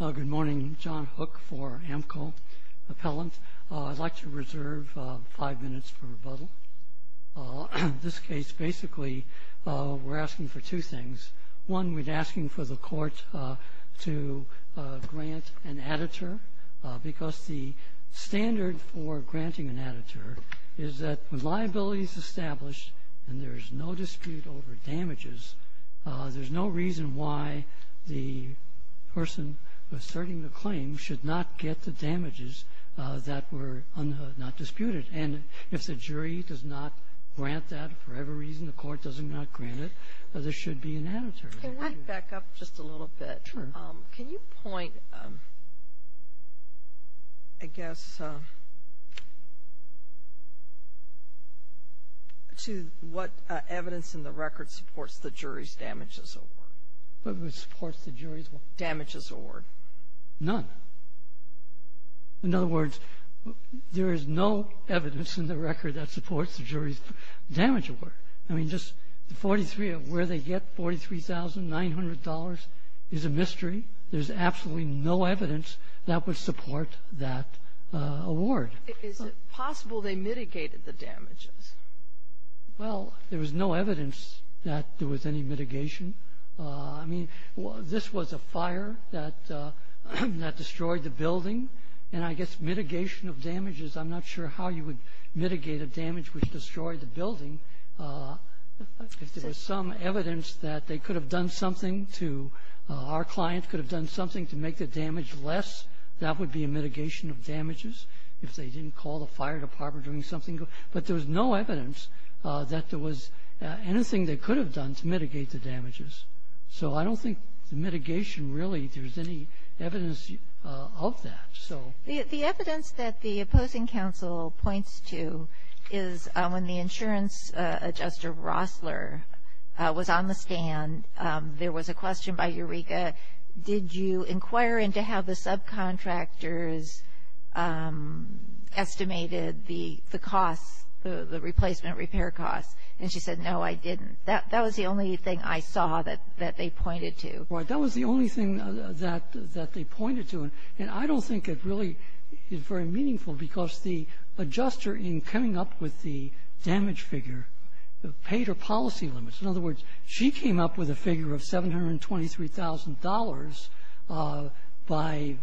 Good morning. John Hook for Amco Appellant. I'd like to reserve five minutes for rebuttal. In this case, basically, we're asking for two things. One, we're asking for the court to grant an additure, because the standard for granting an additure is that when liability is established and there is no dispute over damages, there's no reason why the person asserting the claim should not get the damages that were not disputed. And if the jury does not grant that, for whatever reason the court does not grant it, there should be an additure. Can I back up just a little bit? Sure. Can you point, I guess, to what evidence in the record supports the jury's damages award? What supports the jury's damages award? None. In other words, there is no evidence in the record that supports the jury's damages award. I mean, just the 43, where they get $43,900 is a mystery. There's absolutely no evidence that would support that award. Is it possible they mitigated the damages? Well, there was no evidence that there was any mitigation. I mean, this was a fire that destroyed the building. And I guess mitigation of damages, I'm not sure how you would mitigate a damage which destroyed the building. If there was some evidence that they could have done something to our client, could have done something to make the damage less, that would be a mitigation of damages. If they didn't call the fire department or something. But there was no evidence that there was anything they could have done to mitigate the damages. So I don't think the mitigation really, if there's any evidence of that. The evidence that the opposing counsel points to is when the insurance adjuster, Rossler, was on the stand, there was a question by Eureka, did you inquire into how the subcontractors estimated the costs, the replacement repair costs? And she said, no, I didn't. That was the only thing I saw that they pointed to. Well, that was the only thing that they pointed to. And I don't think it really is very meaningful because the adjuster in coming up with the damage figure paid her policy limits. In other words, she came up with a figure of $723,000 by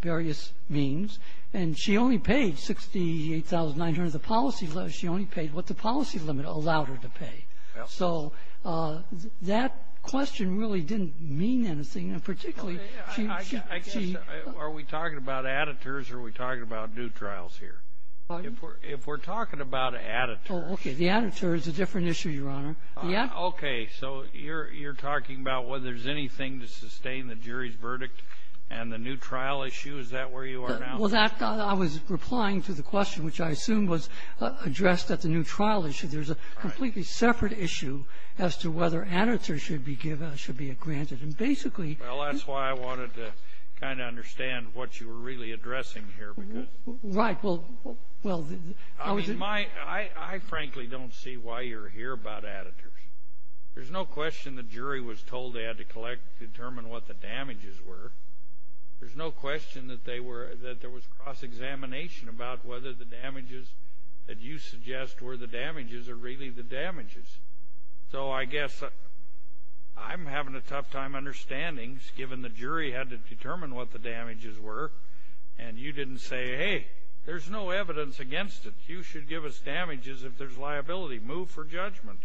various means. And she only paid $68,900. The policy limit, she only paid what the policy limit allowed her to pay. So that question really didn't mean anything. And particularly, she — I guess, are we talking about additors or are we talking about new trials here? Pardon? If we're talking about additors. Oh, okay. The additor is a different issue, Your Honor. Okay. So you're talking about whether there's anything to sustain the jury's verdict and the new trial issue? Is that where you are now? Well, that — I was replying to the question, which I assume was addressed at the new trial issue. There's a completely separate issue as to whether additors should be granted. And basically — Well, that's why I wanted to kind of understand what you were really addressing here. Right. Well, I was — I mean, I frankly don't see why you're here about additors. There's no question the jury was told they had to collect and determine what the damages were. There's no question that there was cross-examination about whether the damages that you suggest were the damages or really the damages. So I guess I'm having a tough time understanding, given the jury had to determine what the damages were, and you didn't say, hey, there's no evidence against it. You should give us damages if there's liability. Move for judgment.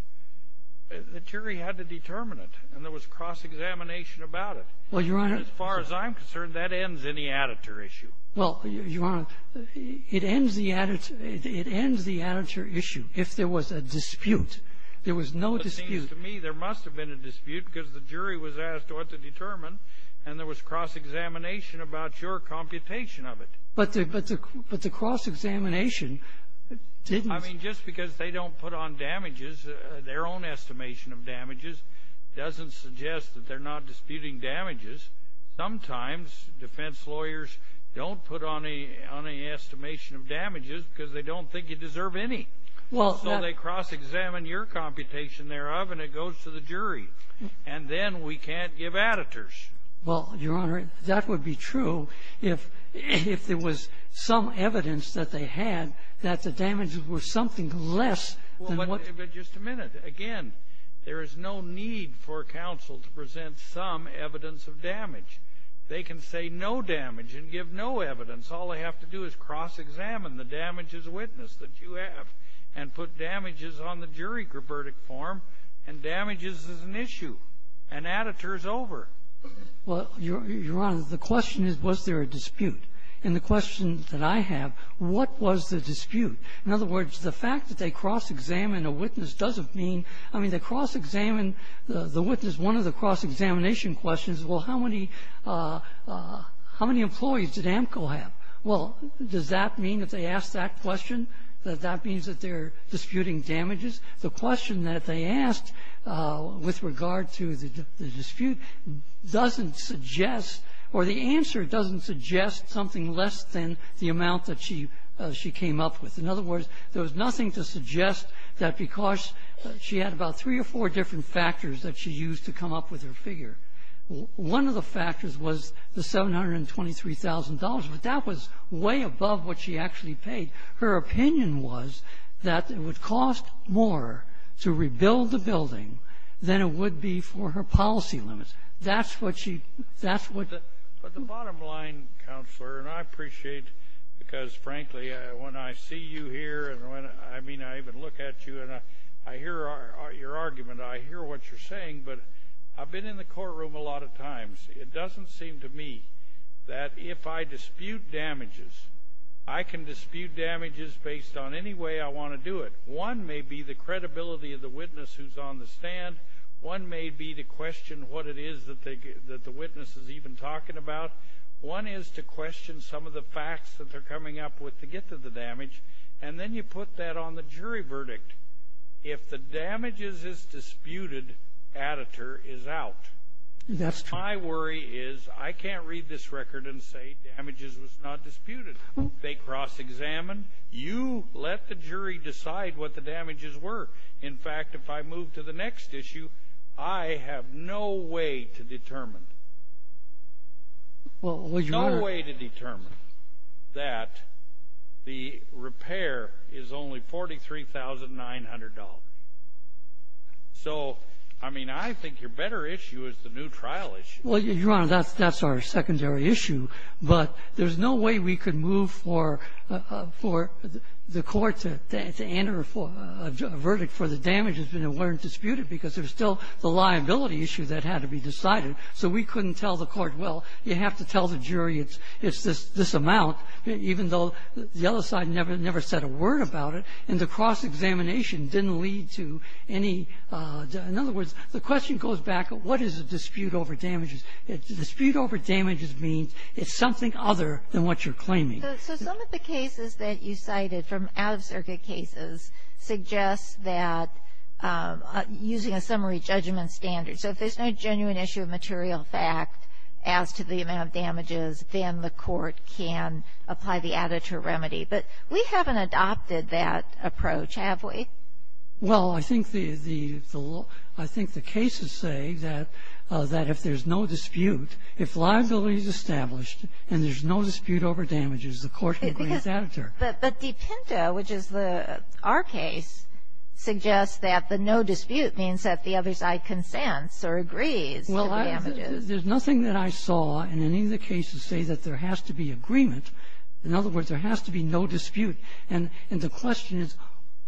The jury had to determine it, and there was cross-examination about it. Well, Your Honor — As far as I'm concerned, that ends any additor issue. Well, Your Honor, it ends the additor issue if there was a dispute. There was no dispute. It seems to me there must have been a dispute because the jury was asked what to determine, and there was cross-examination about your computation of it. But the cross-examination didn't — I mean, just because they don't put on damages, their own estimation of damages, doesn't suggest that they're not disputing damages. Sometimes defense lawyers don't put on any estimation of damages because they don't think you deserve any. So they cross-examine your computation thereof, and it goes to the jury. And then we can't give additors. Well, Your Honor, that would be true if there was some evidence that they had that the damages were something less than what — But just a minute. Again, there is no need for counsel to present some evidence of damage. They can say no damage and give no evidence. All they have to do is cross-examine the damage as a witness that you have and put damages on the jury verdict form, and damages is an issue. An additor is over. Well, Your Honor, the question is, was there a dispute? And the question that I have, what was the dispute? In other words, the fact that they cross-examine a witness doesn't mean — I mean, they cross-examine the witness. One of the cross-examination questions, well, how many — how many employees did AMCO have? Well, does that mean that they ask that question, that that means that they're disputing damages? The question that they asked with regard to the dispute doesn't suggest, or the answer doesn't suggest something less than the amount that she came up with. In other words, there was nothing to suggest that because she had about three or four different factors that she used to come up with her figure. One of the factors was the $723,000, but that was way above what she actually paid. Her opinion was that it would cost more to rebuild the building than it would be for her policy limits. That's what she — that's what the — I mean, I even look at you and I hear your argument. I hear what you're saying, but I've been in the courtroom a lot of times. It doesn't seem to me that if I dispute damages, I can dispute damages based on any way I want to do it. One may be the credibility of the witness who's on the stand. One may be to question what it is that the witness is even talking about. One is to question some of the facts that they're coming up with to get to the conclusion. And then you put that on the jury verdict. If the damages is disputed, additor is out. That's true. My worry is I can't read this record and say damages was not disputed. They cross-examined. You let the jury decide what the damages were. In fact, if I move to the next issue, I have no way to determine. Well, Your Honor — No way to determine that the repair is only $43,900. So, I mean, I think your better issue is the new trial issue. Well, Your Honor, that's our secondary issue. But there's no way we could move for the court to enter a verdict for the damages that weren't disputed because there's still the liability issue that had to be decided. So we couldn't tell the court, well, you have to tell the jury it's this amount, even though the other side never said a word about it. And the cross-examination didn't lead to any — in other words, the question goes back, what is a dispute over damages? A dispute over damages means it's something other than what you're claiming. So some of the cases that you cited from out-of-circuit cases suggests that using a summary judgment standard. So if there's no genuine issue of material fact as to the amount of damages, then the court can apply the additive remedy. But we haven't adopted that approach, have we? Well, I think the cases say that if there's no dispute, if liability is established and there's no dispute over damages, the court can bring its additive. But Dipinta, which is our case, suggests that the no dispute means that the other side consents or agrees to the damages. Well, there's nothing that I saw in any of the cases say that there has to be agreement. In other words, there has to be no dispute. And the question is,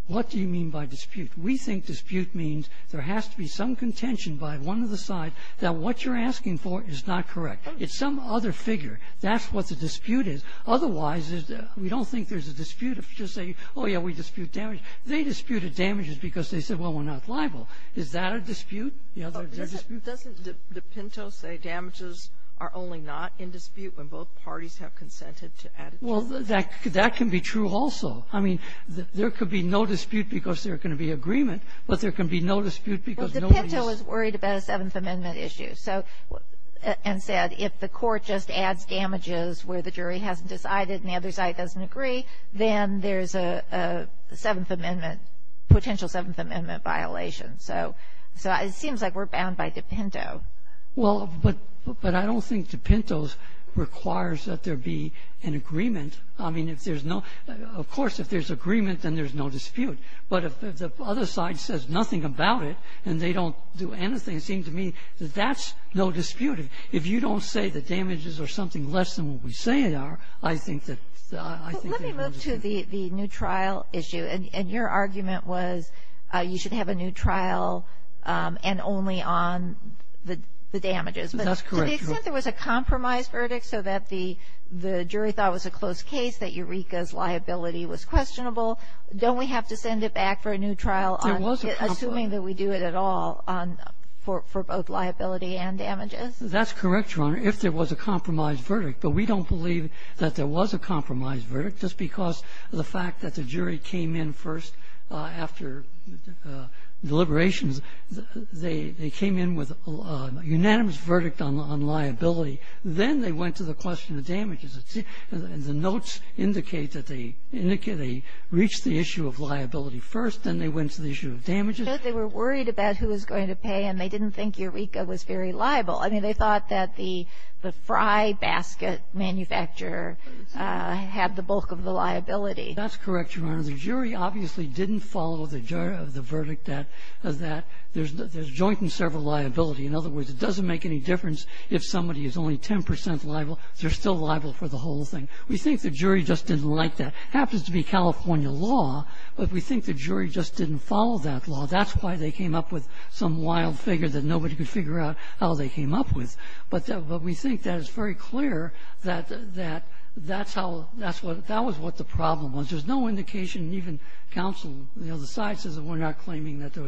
what do you mean by dispute? We think dispute means there has to be some contention by one of the sides that what you're asking for is not correct. It's some other figure. That's what the dispute is. Otherwise, we don't think there's a dispute. If you just say, oh, yeah, we dispute damage, they disputed damages because they said, well, we're not liable. Is that a dispute? You know, they're disputing. Doesn't Dipinto say damages are only not in dispute when both parties have consented to additives? Well, that can be true also. I mean, there could be no dispute because there are going to be agreement, but there can be no dispute because nobody's ---- Well, Dipinto is worried about a Seventh Amendment issue. And said, if the court just adds damages where the jury hasn't decided and the other side doesn't agree, then there's a Seventh Amendment, potential Seventh Amendment violation. So it seems like we're bound by Dipinto. Well, but I don't think Dipinto requires that there be an agreement. I mean, if there's no ---- of course, if there's agreement, then there's no dispute. But if the other side says nothing about it and they don't do anything, it seems to me that that's no dispute. If you don't say that damages are something less than what we say they are, I think that ---- Let me move to the new trial issue. And your argument was you should have a new trial and only on the damages. That's correct. But to the extent there was a compromise verdict so that the jury thought it was a close case, that Eureka's liability was questionable, don't we have to send it back for a new trial on ---- There was a compromise. Assuming that we do it at all for both liability and damages? That's correct, Your Honor, if there was a compromise verdict. But we don't believe that there was a compromise verdict just because of the fact that the jury came in first after deliberations. They came in with a unanimous verdict on liability. Then they went to the question of damages. And the notes indicate that they reached the issue of liability first. Then they went to the issue of damages. But they were worried about who was going to pay. And they didn't think Eureka was very liable. I mean, they thought that the fry basket manufacturer had the bulk of the liability. That's correct, Your Honor. The jury obviously didn't follow the verdict that there's joint and several liability. In other words, it doesn't make any difference if somebody is only 10 percent liable. They're still liable for the whole thing. We think the jury just didn't like that. It happens to be California law. But we think the jury just didn't follow that law. That's why they came up with some wild figure that nobody could figure out how they came up with. But we think that it's very clear that that's how that's what the problem was. There's no indication even counsel on the other side says that we're not claiming that there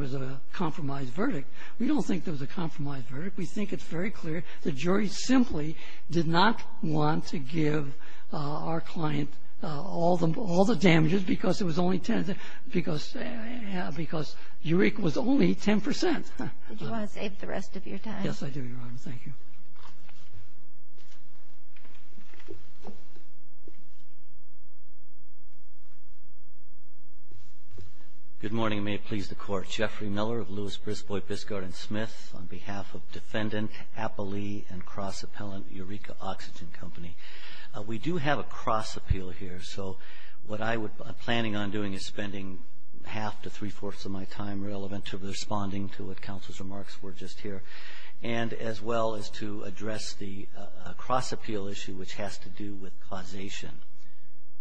was a compromise verdict. We don't think there was a compromise verdict. We think it's very clear the jury simply did not want to give our client all the damages because Eureka was only 10 percent. Did you want to save the rest of your time? Yes, I do, Your Honor. Thank you. Good morning, and may it please the Court. My name is Jeffrey Miller of Lewis, Brisbois, Biscard, and Smith on behalf of Defendant Appalee and Cross Appellant Eureka Oxygen Company. We do have a cross appeal here. So what I'm planning on doing is spending half to three-fourths of my time relevant to responding to what counsel's remarks were just here, and as well as to address the cross appeal issue, which has to do with causation.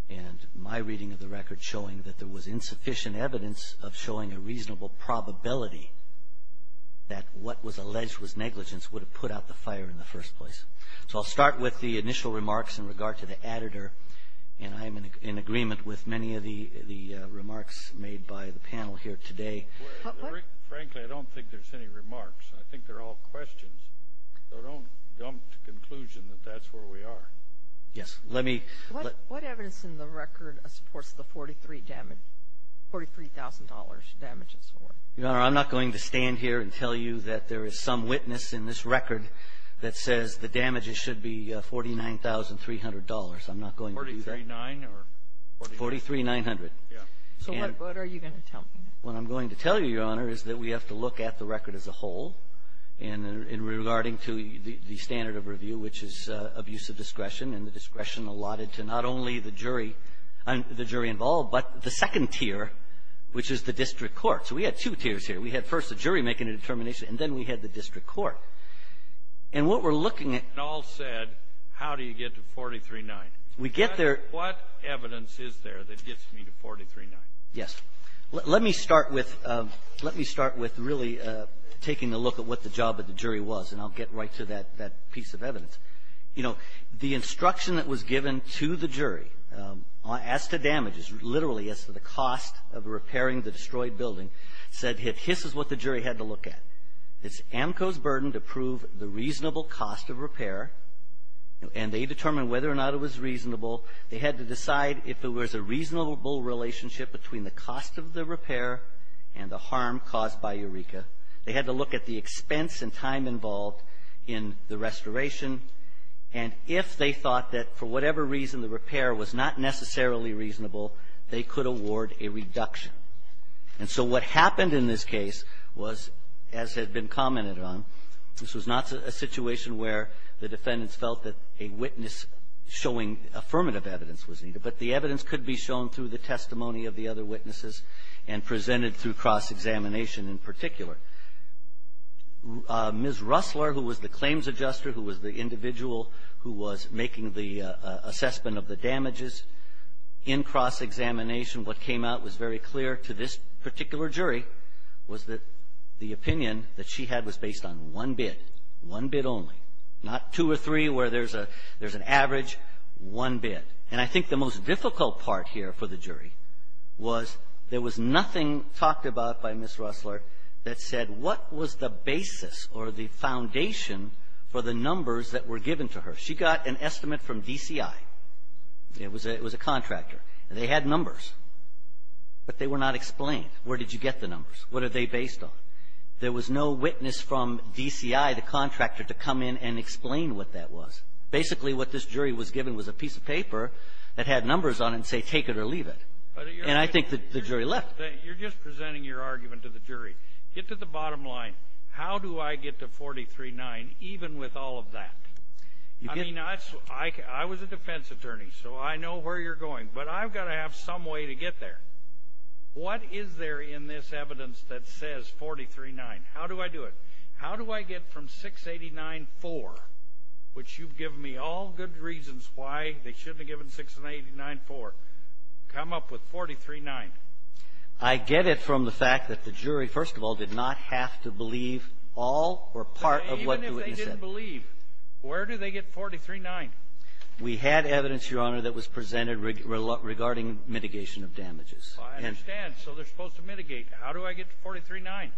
And my reading of the record showing that there was insufficient evidence of showing a reasonable probability that what was alleged was negligence would have put out the fire in the first place. So I'll start with the initial remarks in regard to the additor, and I'm in agreement with many of the remarks made by the panel here today. Frankly, I don't think there's any remarks. I think they're all questions. So don't dump the conclusion that that's where we are. Yes. Let me ---- What evidence in the record supports the $43,000 damages? Your Honor, I'm not going to stand here and tell you that there is some witness in this record that says the damages should be $49,300. I'm not going to do that. Forty-three-nine or ---- Forty-three-nine hundred. Yes. So what are you going to tell me? What I'm going to tell you, Your Honor, is that we have to look at the record as a whole in regarding to the standard of review, which is abuse of discretion, and the discretion allotted to not only the jury and the jury involved, but the second tier, which is the district court. So we had two tiers here. We had first the jury making a determination, and then we had the district court. And what we're looking at ---- You all said, how do you get to $43,900? We get there ---- What evidence is there that gets me to $43,900? Well, let me start with ---- let me start with really taking a look at what the job of the jury was, and I'll get right to that piece of evidence. You know, the instruction that was given to the jury as to damages, literally as to the cost of repairing the destroyed building, said that this is what the jury had to look at. It's AMCO's burden to prove the reasonable cost of repair, and they determined whether or not it was reasonable. They had to decide if it was a reasonable relationship between the cost of the repair and the harm caused by Eureka. They had to look at the expense and time involved in the restoration, and if they thought that for whatever reason the repair was not necessarily reasonable, they could award a reduction. And so what happened in this case was, as had been commented on, this was not a situation where the defendants felt that a witness showing affirmative evidence was needed, but the evidence could be shown through the testimony of the other witnesses and presented through cross-examination in particular. Ms. Russler, who was the claims adjuster, who was the individual who was making the assessment of the damages, in cross-examination, what came out was very clear to this particular jury, was that the opinion that she had was based on one bid, one bid only, not two or three where there's an average, one bid. And I think the most difficult part here for the jury was there was nothing talked about by Ms. Russler that said what was the basis or the foundation for the numbers that were given to her. She got an estimate from DCI. It was a contractor. They had numbers, but they were not explained. Where did you get the numbers? What are they based on? There was no witness from DCI, the contractor, to come in and explain what that was. Basically, what this jury was given was a piece of paper that had numbers on it and say take it or leave it. And I think the jury left. You're just presenting your argument to the jury. Get to the bottom line. How do I get to 43-9 even with all of that? I mean, I was a defense attorney, so I know where you're going, but I've got to have some way to get there. What is there in this evidence that says 43-9? How do I do it? How do I get from 689-4, which you've given me all good reasons why they shouldn't have given 689-4, come up with 43-9? I get it from the fact that the jury, first of all, did not have to believe all or part of what the witness said. But even if they didn't believe, where do they get 43-9? We had evidence, Your Honor, that was presented regarding mitigation of damages. I understand. So they're supposed to mitigate. How do I get to 43-9?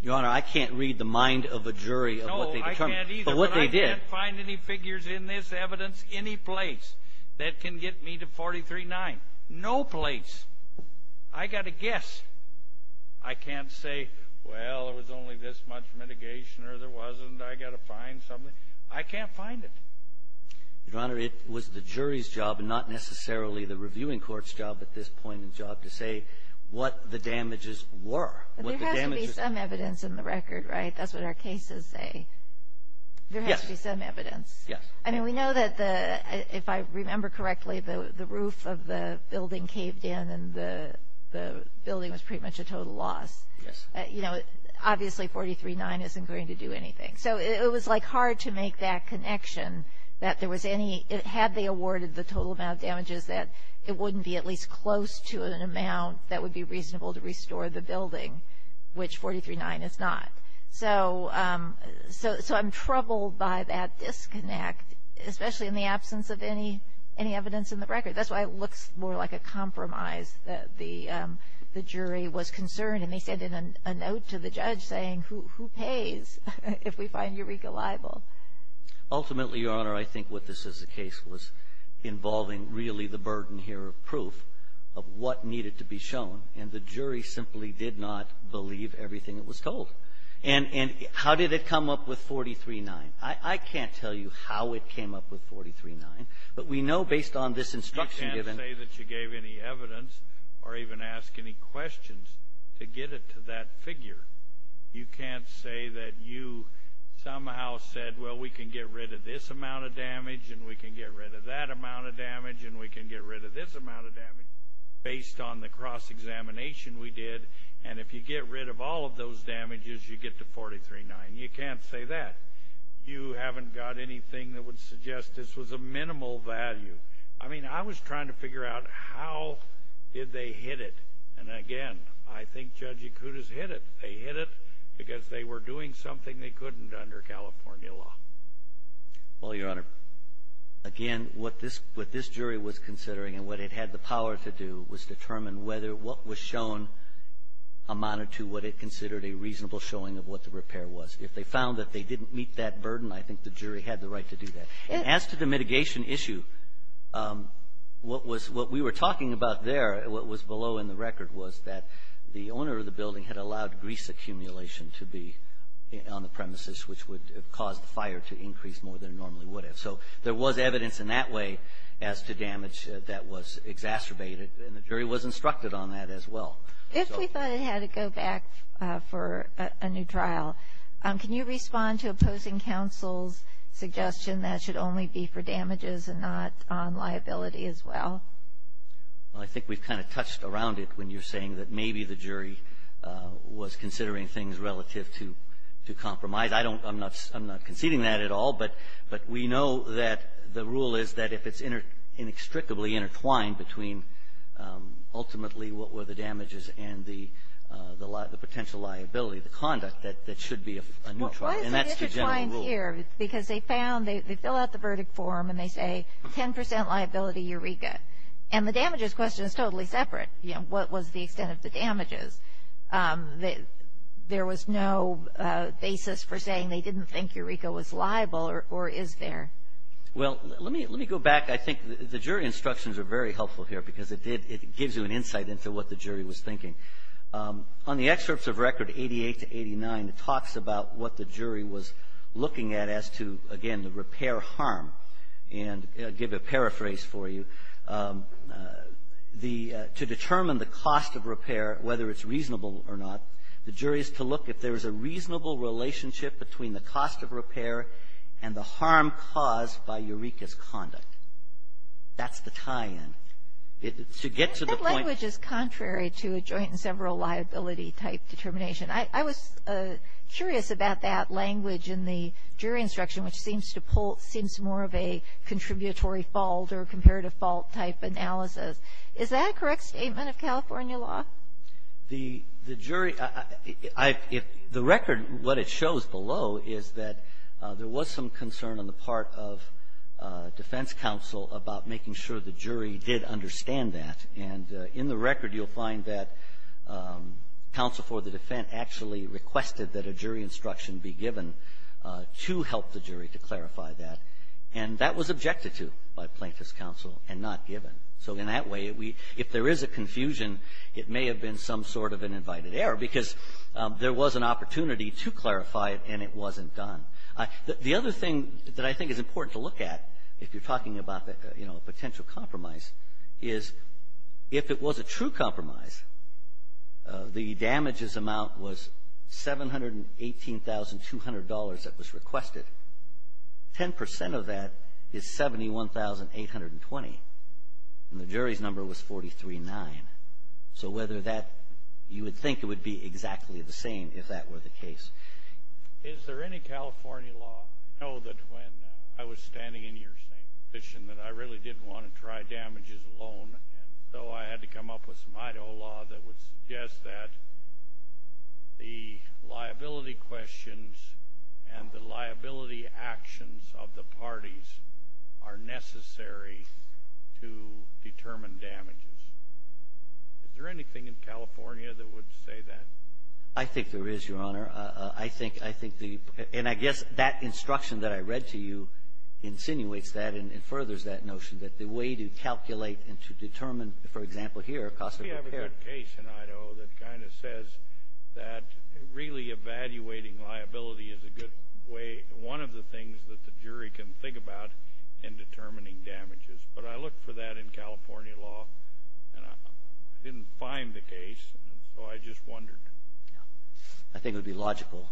Your Honor, I can't read the mind of a jury of what they determined. No, I can't either. But what they did. I can't find any figures in this evidence any place that can get me to 43-9. No place. I've got to guess. I can't say, well, there was only this much mitigation or there wasn't. I've got to find something. I can't find it. Your Honor, it was the jury's job and not necessarily the reviewing court's job at this point in the job to say what the damages were. There has to be some evidence in the record, right? That's what our cases say. Yes. There has to be some evidence. Yes. I mean, we know that the – if I remember correctly, the roof of the building caved in and the building was pretty much a total loss. Yes. You know, obviously 43-9 isn't going to do anything. So it was, like, hard to make that connection that there was any – had they awarded the total amount of damages that it wouldn't be at least close to an amount that would be reasonable to restore the building, which 43-9 is not. So I'm troubled by that disconnect, especially in the absence of any evidence in the record. That's why it looks more like a compromise that the jury was concerned. And they sent in a note to the judge saying, who pays if we find Eureka liable? Ultimately, Your Honor, I think what this is a case was involving really the burden here of proof of what needed to be shown, and the jury simply did not believe everything that was told. And how did it come up with 43-9? I can't tell you how it came up with 43-9, but we know based on this instruction given – to get it to that figure. You can't say that you somehow said, well, we can get rid of this amount of damage, and we can get rid of that amount of damage, and we can get rid of this amount of damage based on the cross-examination we did. And if you get rid of all of those damages, you get to 43-9. You can't say that. You haven't got anything that would suggest this was a minimal value. I mean, I was trying to figure out how did they hit it. And again, I think Judge Yakutas hit it. They hit it because they were doing something they couldn't under California law. Well, Your Honor, again, what this jury was considering and what it had the power to do was determine whether what was shown amounted to what it considered a reasonable showing of what the repair was. If they found that they didn't meet that burden, I think the jury had the right to do that. And as to the mitigation issue, what we were talking about there, what was below in the record was that the owner of the building had allowed grease accumulation to be on the premises, which would cause the fire to increase more than it normally would have. So there was evidence in that way as to damage that was exacerbated, and the jury was instructed on that as well. If we thought it had to go back for a new trial, can you respond to opposing counsel's suggestion that it should only be for damages and not on liability as well? Well, I think we've kind of touched around it when you're saying that maybe the jury was considering things relative to compromise. I don't – I'm not conceding that at all, but we know that the rule is that if it's inextricably intertwined between ultimately what were the damages and the potential liability, the conduct, that it should be a new trial. And that's the general rule. Well, why is it intertwined here? Because they found – they fill out the verdict form and they say 10% liability, Eureka. And the damages question is totally separate. You know, what was the extent of the damages? There was no basis for saying they didn't think Eureka was liable or is there? Well, let me go back. I think the jury instructions are very helpful here because it gives you an insight into what the jury was thinking. On the excerpts of record 88 to 89, it talks about what the jury was looking at as to, again, the repair harm. And I'll give a paraphrase for you. To determine the cost of repair, whether it's reasonable or not, the jury is to look if there is a reasonable relationship between the cost of repair and the harm caused by Eureka's conduct. That's the tie-in. To get to the point – That language is contrary to a joint and several liability type determination. I was curious about that language in the jury instruction, which seems to pull – seems more of a contributory fault or comparative fault type analysis. Is that a correct statement of California law? The jury – the record, what it shows below, is that there was some concern on the part of defense counsel about making sure the jury did understand that. And in the record, you'll find that counsel for the defense actually requested that a jury instruction be given to help the jury to clarify that. And that was objected to by plaintiff's counsel and not given. So in that way, if there is a confusion, it may have been some sort of an invited error because there was an opportunity to clarify it and it wasn't done. The other thing that I think is important to look at if you're talking about, you know, a potential compromise is if it was a true compromise, the damages amount was $718,200 that was requested. Ten percent of that is $71,820. And the jury's number was 43-9. So whether that – you would think it would be exactly the same if that were the case. Is there any California law – I know that when I was standing in your position that I really didn't want to try damages alone, and so I had to come up with some Idaho law that would suggest that the liability questions and the liability actions of the parties are necessary to determine damages. Is there anything in California that would say that? I think there is, Your Honor. I think the – and I guess that instruction that I read to you insinuates that and furthers that notion that the way to calculate and to determine, for example, here, cost of repair. We have a good case in Idaho that kind of says that really evaluating liability is a good way – one of the things that the jury can think about in determining damages. But I looked for that in California law and I didn't find the case, and so I just wondered. I think it would be logical.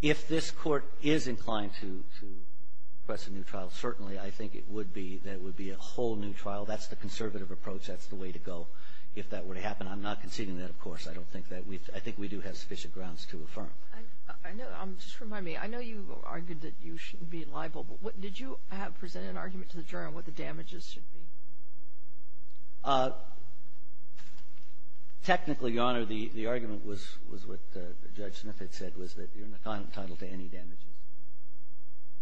If this Court is inclined to request a new trial, certainly I think it would be that it would be a whole new trial. That's the conservative approach. That's the way to go if that were to happen. I'm not conceding that, of course. I don't think that we've – I think we do have sufficient grounds to affirm. I know – just remind me. I know you argued that you shouldn't be liable, but what – did you present an argument to the jury on what the damages should be? Technically, Your Honor, the argument was what Judge Smith had said, was that you're entitled to any damages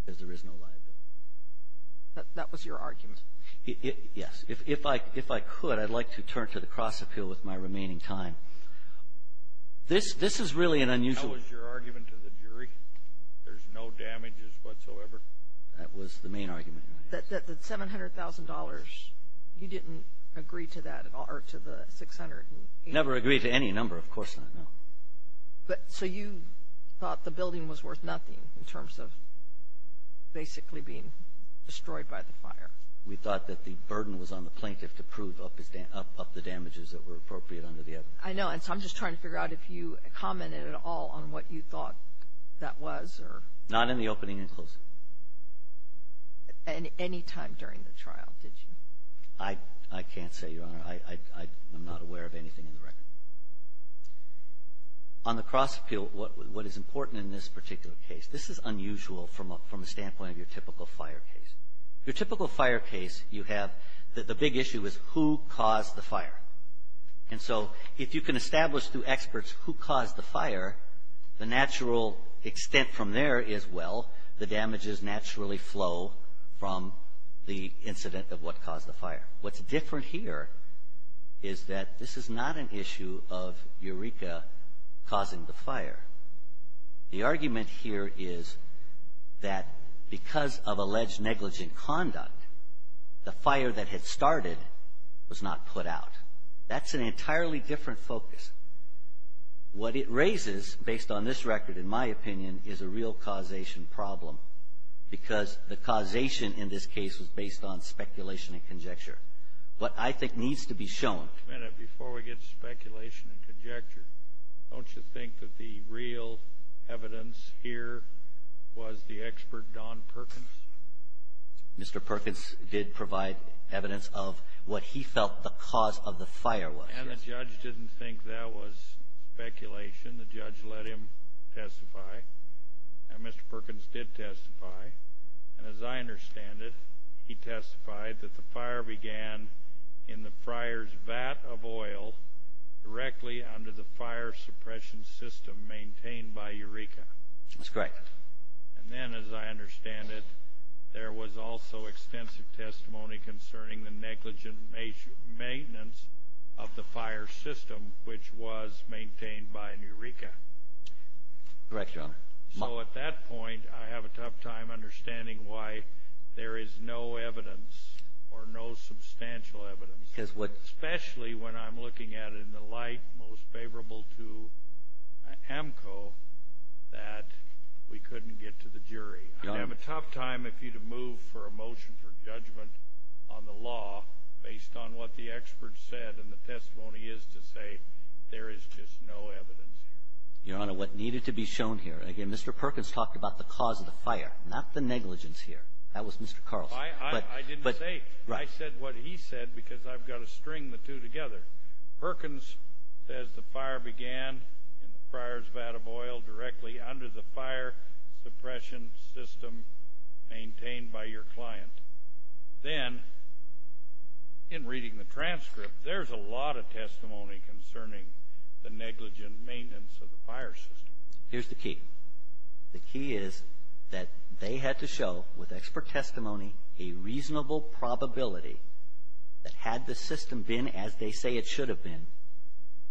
because there is no liability. That was your argument? Yes. If I could, I'd like to turn to the cross-appeal with my remaining time. This is really an unusual – That was your argument to the jury? There's no damages whatsoever? That was the main argument. That $700,000, you didn't agree to that at all, or to the $600,000? Never agreed to any number, of course not, no. So you thought the building was worth nothing in terms of basically being destroyed by the fire? We thought that the burden was on the plaintiff to prove up the damages that were appropriate under the evidence. I know, and so I'm just trying to figure out if you commented at all on what you thought that was or – Not in the opening and closing. Any time during the trial, did you? I can't say, Your Honor. I'm not aware of anything in the record. On the cross-appeal, what is important in this particular case, this is unusual from a standpoint of your typical fire case. Your typical fire case, you have – the big issue is who caused the fire. And so if you can establish through experts who caused the fire, the natural extent from there is, well, the damages naturally flow from the incident of what caused the fire. What's different here is that this is not an issue of Eureka causing the fire. The argument here is that because of alleged negligent conduct, the fire that had started was not put out. That's an entirely different focus. What it raises, based on this record, in my opinion, is a real causation problem because the causation in this case was based on speculation and conjecture. What I think needs to be shown – Wait a minute before we get to speculation and conjecture. Don't you think that the real evidence here was the expert Don Perkins? Mr. Perkins did provide evidence of what he felt the cause of the fire was. And the judge didn't think that was speculation. The judge let him testify. Now, Mr. Perkins did testify, and as I understand it, he testified that the fire began in the fryer's vat of oil directly under the fire suppression system maintained by Eureka. That's correct. And then, as I understand it, there was also extensive testimony concerning the negligent maintenance of the fire system, which was maintained by Eureka. Correct, Your Honor. So at that point, I have a tough time understanding why there is no evidence, or no substantial evidence, especially when I'm looking at it in the light most favorable to AMCO, that we couldn't get to the jury. I'd have a tough time if you'd have moved for a motion for judgment on the law based on what the expert said, and the testimony is to say there is just no evidence here. Your Honor, what needed to be shown here, and again, Mr. Perkins talked about the cause of the fire, not the negligence here. That was Mr. Carlson. I didn't say it. I said what he said because I've got to string the two together. Perkins says the fire began in the fryer's vat of oil directly under the fire suppression system maintained by your client. Then, in reading the transcript, there's a lot of testimony concerning the negligent maintenance of the fire system. Here's the key. The key is that they had to show, with expert testimony, a reasonable probability that had the system been as they say it should have been,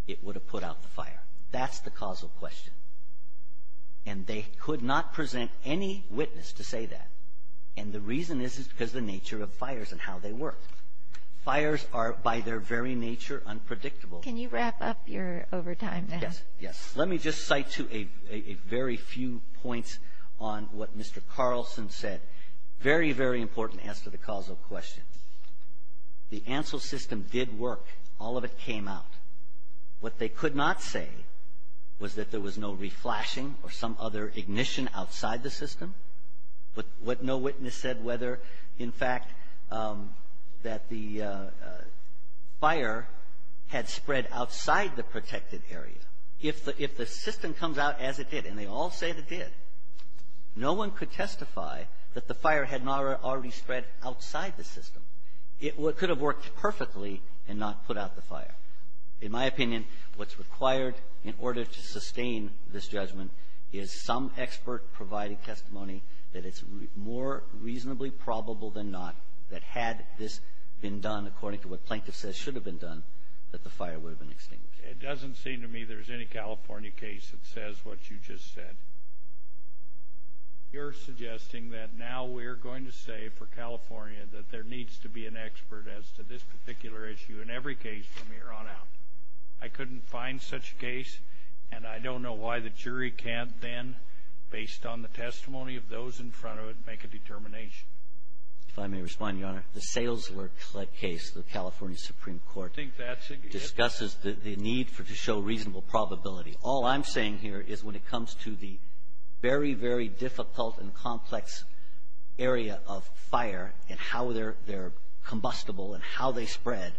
it would have put out the fire. That's the causal question, and they could not present any witness to say that, and the reason is because of the nature of fires and how they work. Fires are, by their very nature, unpredictable. Can you wrap up your overtime now? Yes, yes. Let me just cite a very few points on what Mr. Carlson said. Very, very important answer to the causal question. The ANSEL system did work. All of it came out. What they could not say was that there was no reflashing or some other ignition outside the system. What no witness said, whether, in fact, that the fire had spread outside the protected area. If the system comes out as it did, and they all said it did, no one could testify that the fire had not already spread outside the system. It could have worked perfectly and not put out the fire. In my opinion, what's required in order to sustain this judgment is some expert-provided testimony that it's more reasonably probable than not that had this been done according to what Plankton says should have been done, that the fire would have been extinguished. It doesn't seem to me there's any California case that says what you just said. You're suggesting that now we're going to say for California that there needs to be an expert as to this particular issue in every case from here on out. I couldn't find such a case, and I don't know why the jury can't then, based on the testimony of those in front of it, make a determination. If I may respond, Your Honor. The Salesworth case, the California Supreme Court, discusses the need to show reasonable probability. All I'm saying here is when it comes to the very, very difficult and complex area of fire and how they're combustible and how they spread,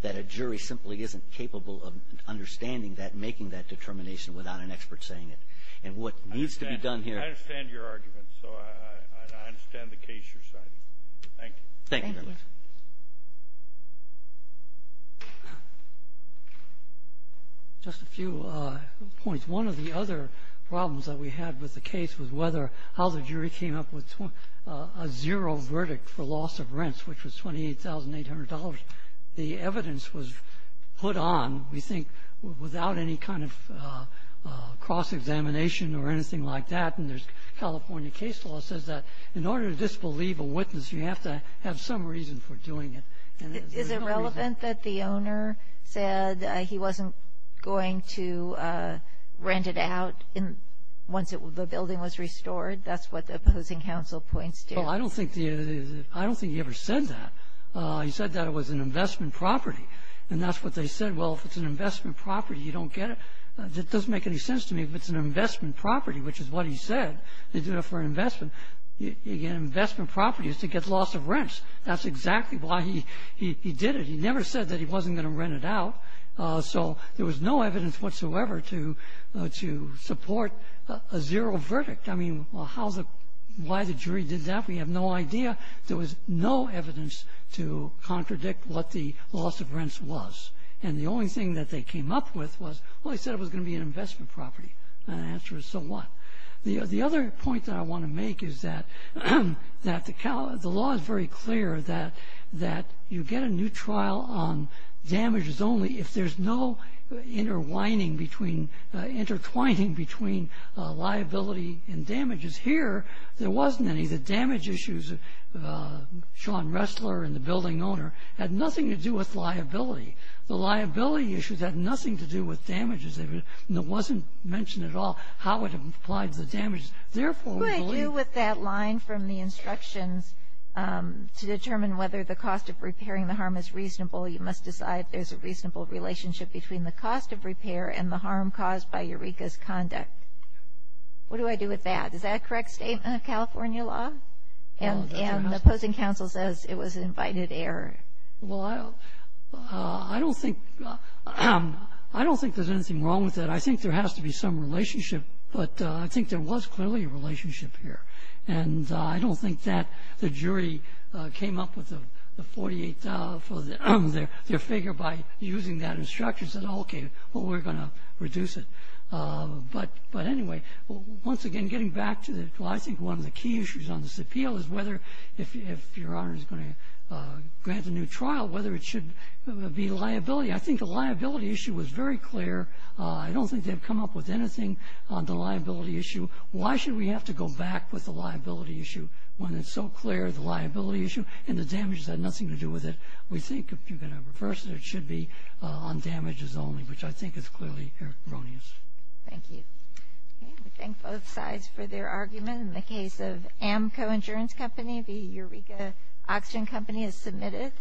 that a jury simply isn't capable of understanding that and making that determination without an expert saying it. And what needs to be done here – I understand your argument, so I understand the case you're citing. Thank you. Thank you, Your Honor. Just a few points. One of the other problems that we had with the case was how the jury came up with a zero verdict for loss of rents, which was $28,800. The evidence was put on, we think, without any kind of cross-examination or anything like that. And California case law says that in order to disbelieve a witness, you have to have some reason for doing it. Is it relevant that the owner said he wasn't going to rent it out once the building was restored? That's what the opposing counsel points to. I don't think he ever said that. He said that it was an investment property. And that's what they said. Well, if it's an investment property, you don't get it. It doesn't make any sense to me if it's an investment property, which is what he said. They did it for investment. You get investment properties to get loss of rents. That's exactly why he did it. He never said that he wasn't going to rent it out. So there was no evidence whatsoever to support a zero verdict. I mean, why the jury did that, we have no idea. There was no evidence to contradict what the loss of rents was. And the only thing that they came up with was, well, he said it was going to be an investment property. And the answer is, so what? The other point that I want to make is that the law is very clear that you get a new trial on damages only if there's no intertwining between liability and damages. Here there wasn't any. The damage issues, Sean Ressler and the building owner, had nothing to do with liability. The liability issues had nothing to do with damages. It wasn't mentioned at all how it applied to damages. Therefore, we believe. What do I do with that line from the instructions to determine whether the cost of repairing the harm is reasonable? You must decide there's a reasonable relationship between the cost of repair and the harm caused by Eureka's conduct. What do I do with that? Is that a correct statement of California law? And the opposing counsel says it was an invited error. Well, I don't think there's anything wrong with that. I think there has to be some relationship, but I think there was clearly a relationship here. And I don't think that the jury came up with the 48 for their figure by using that instruction and said, okay, well, we're going to reduce it. But anyway, once again, getting back to the why I think one of the key issues on this appeal is whether if your honor is going to grant a new trial, whether it should be liability. I think the liability issue was very clear. I don't think they've come up with anything on the liability issue. Why should we have to go back with the liability issue when it's so clear the liability issue and the damages had nothing to do with it? We think if you're going to reverse it, it should be on damages only, which I think is clearly erroneous. Thank you. We thank both sides for their argument. In the case of Amco Insurance Company, the Eureka Oxygen Company has submitted.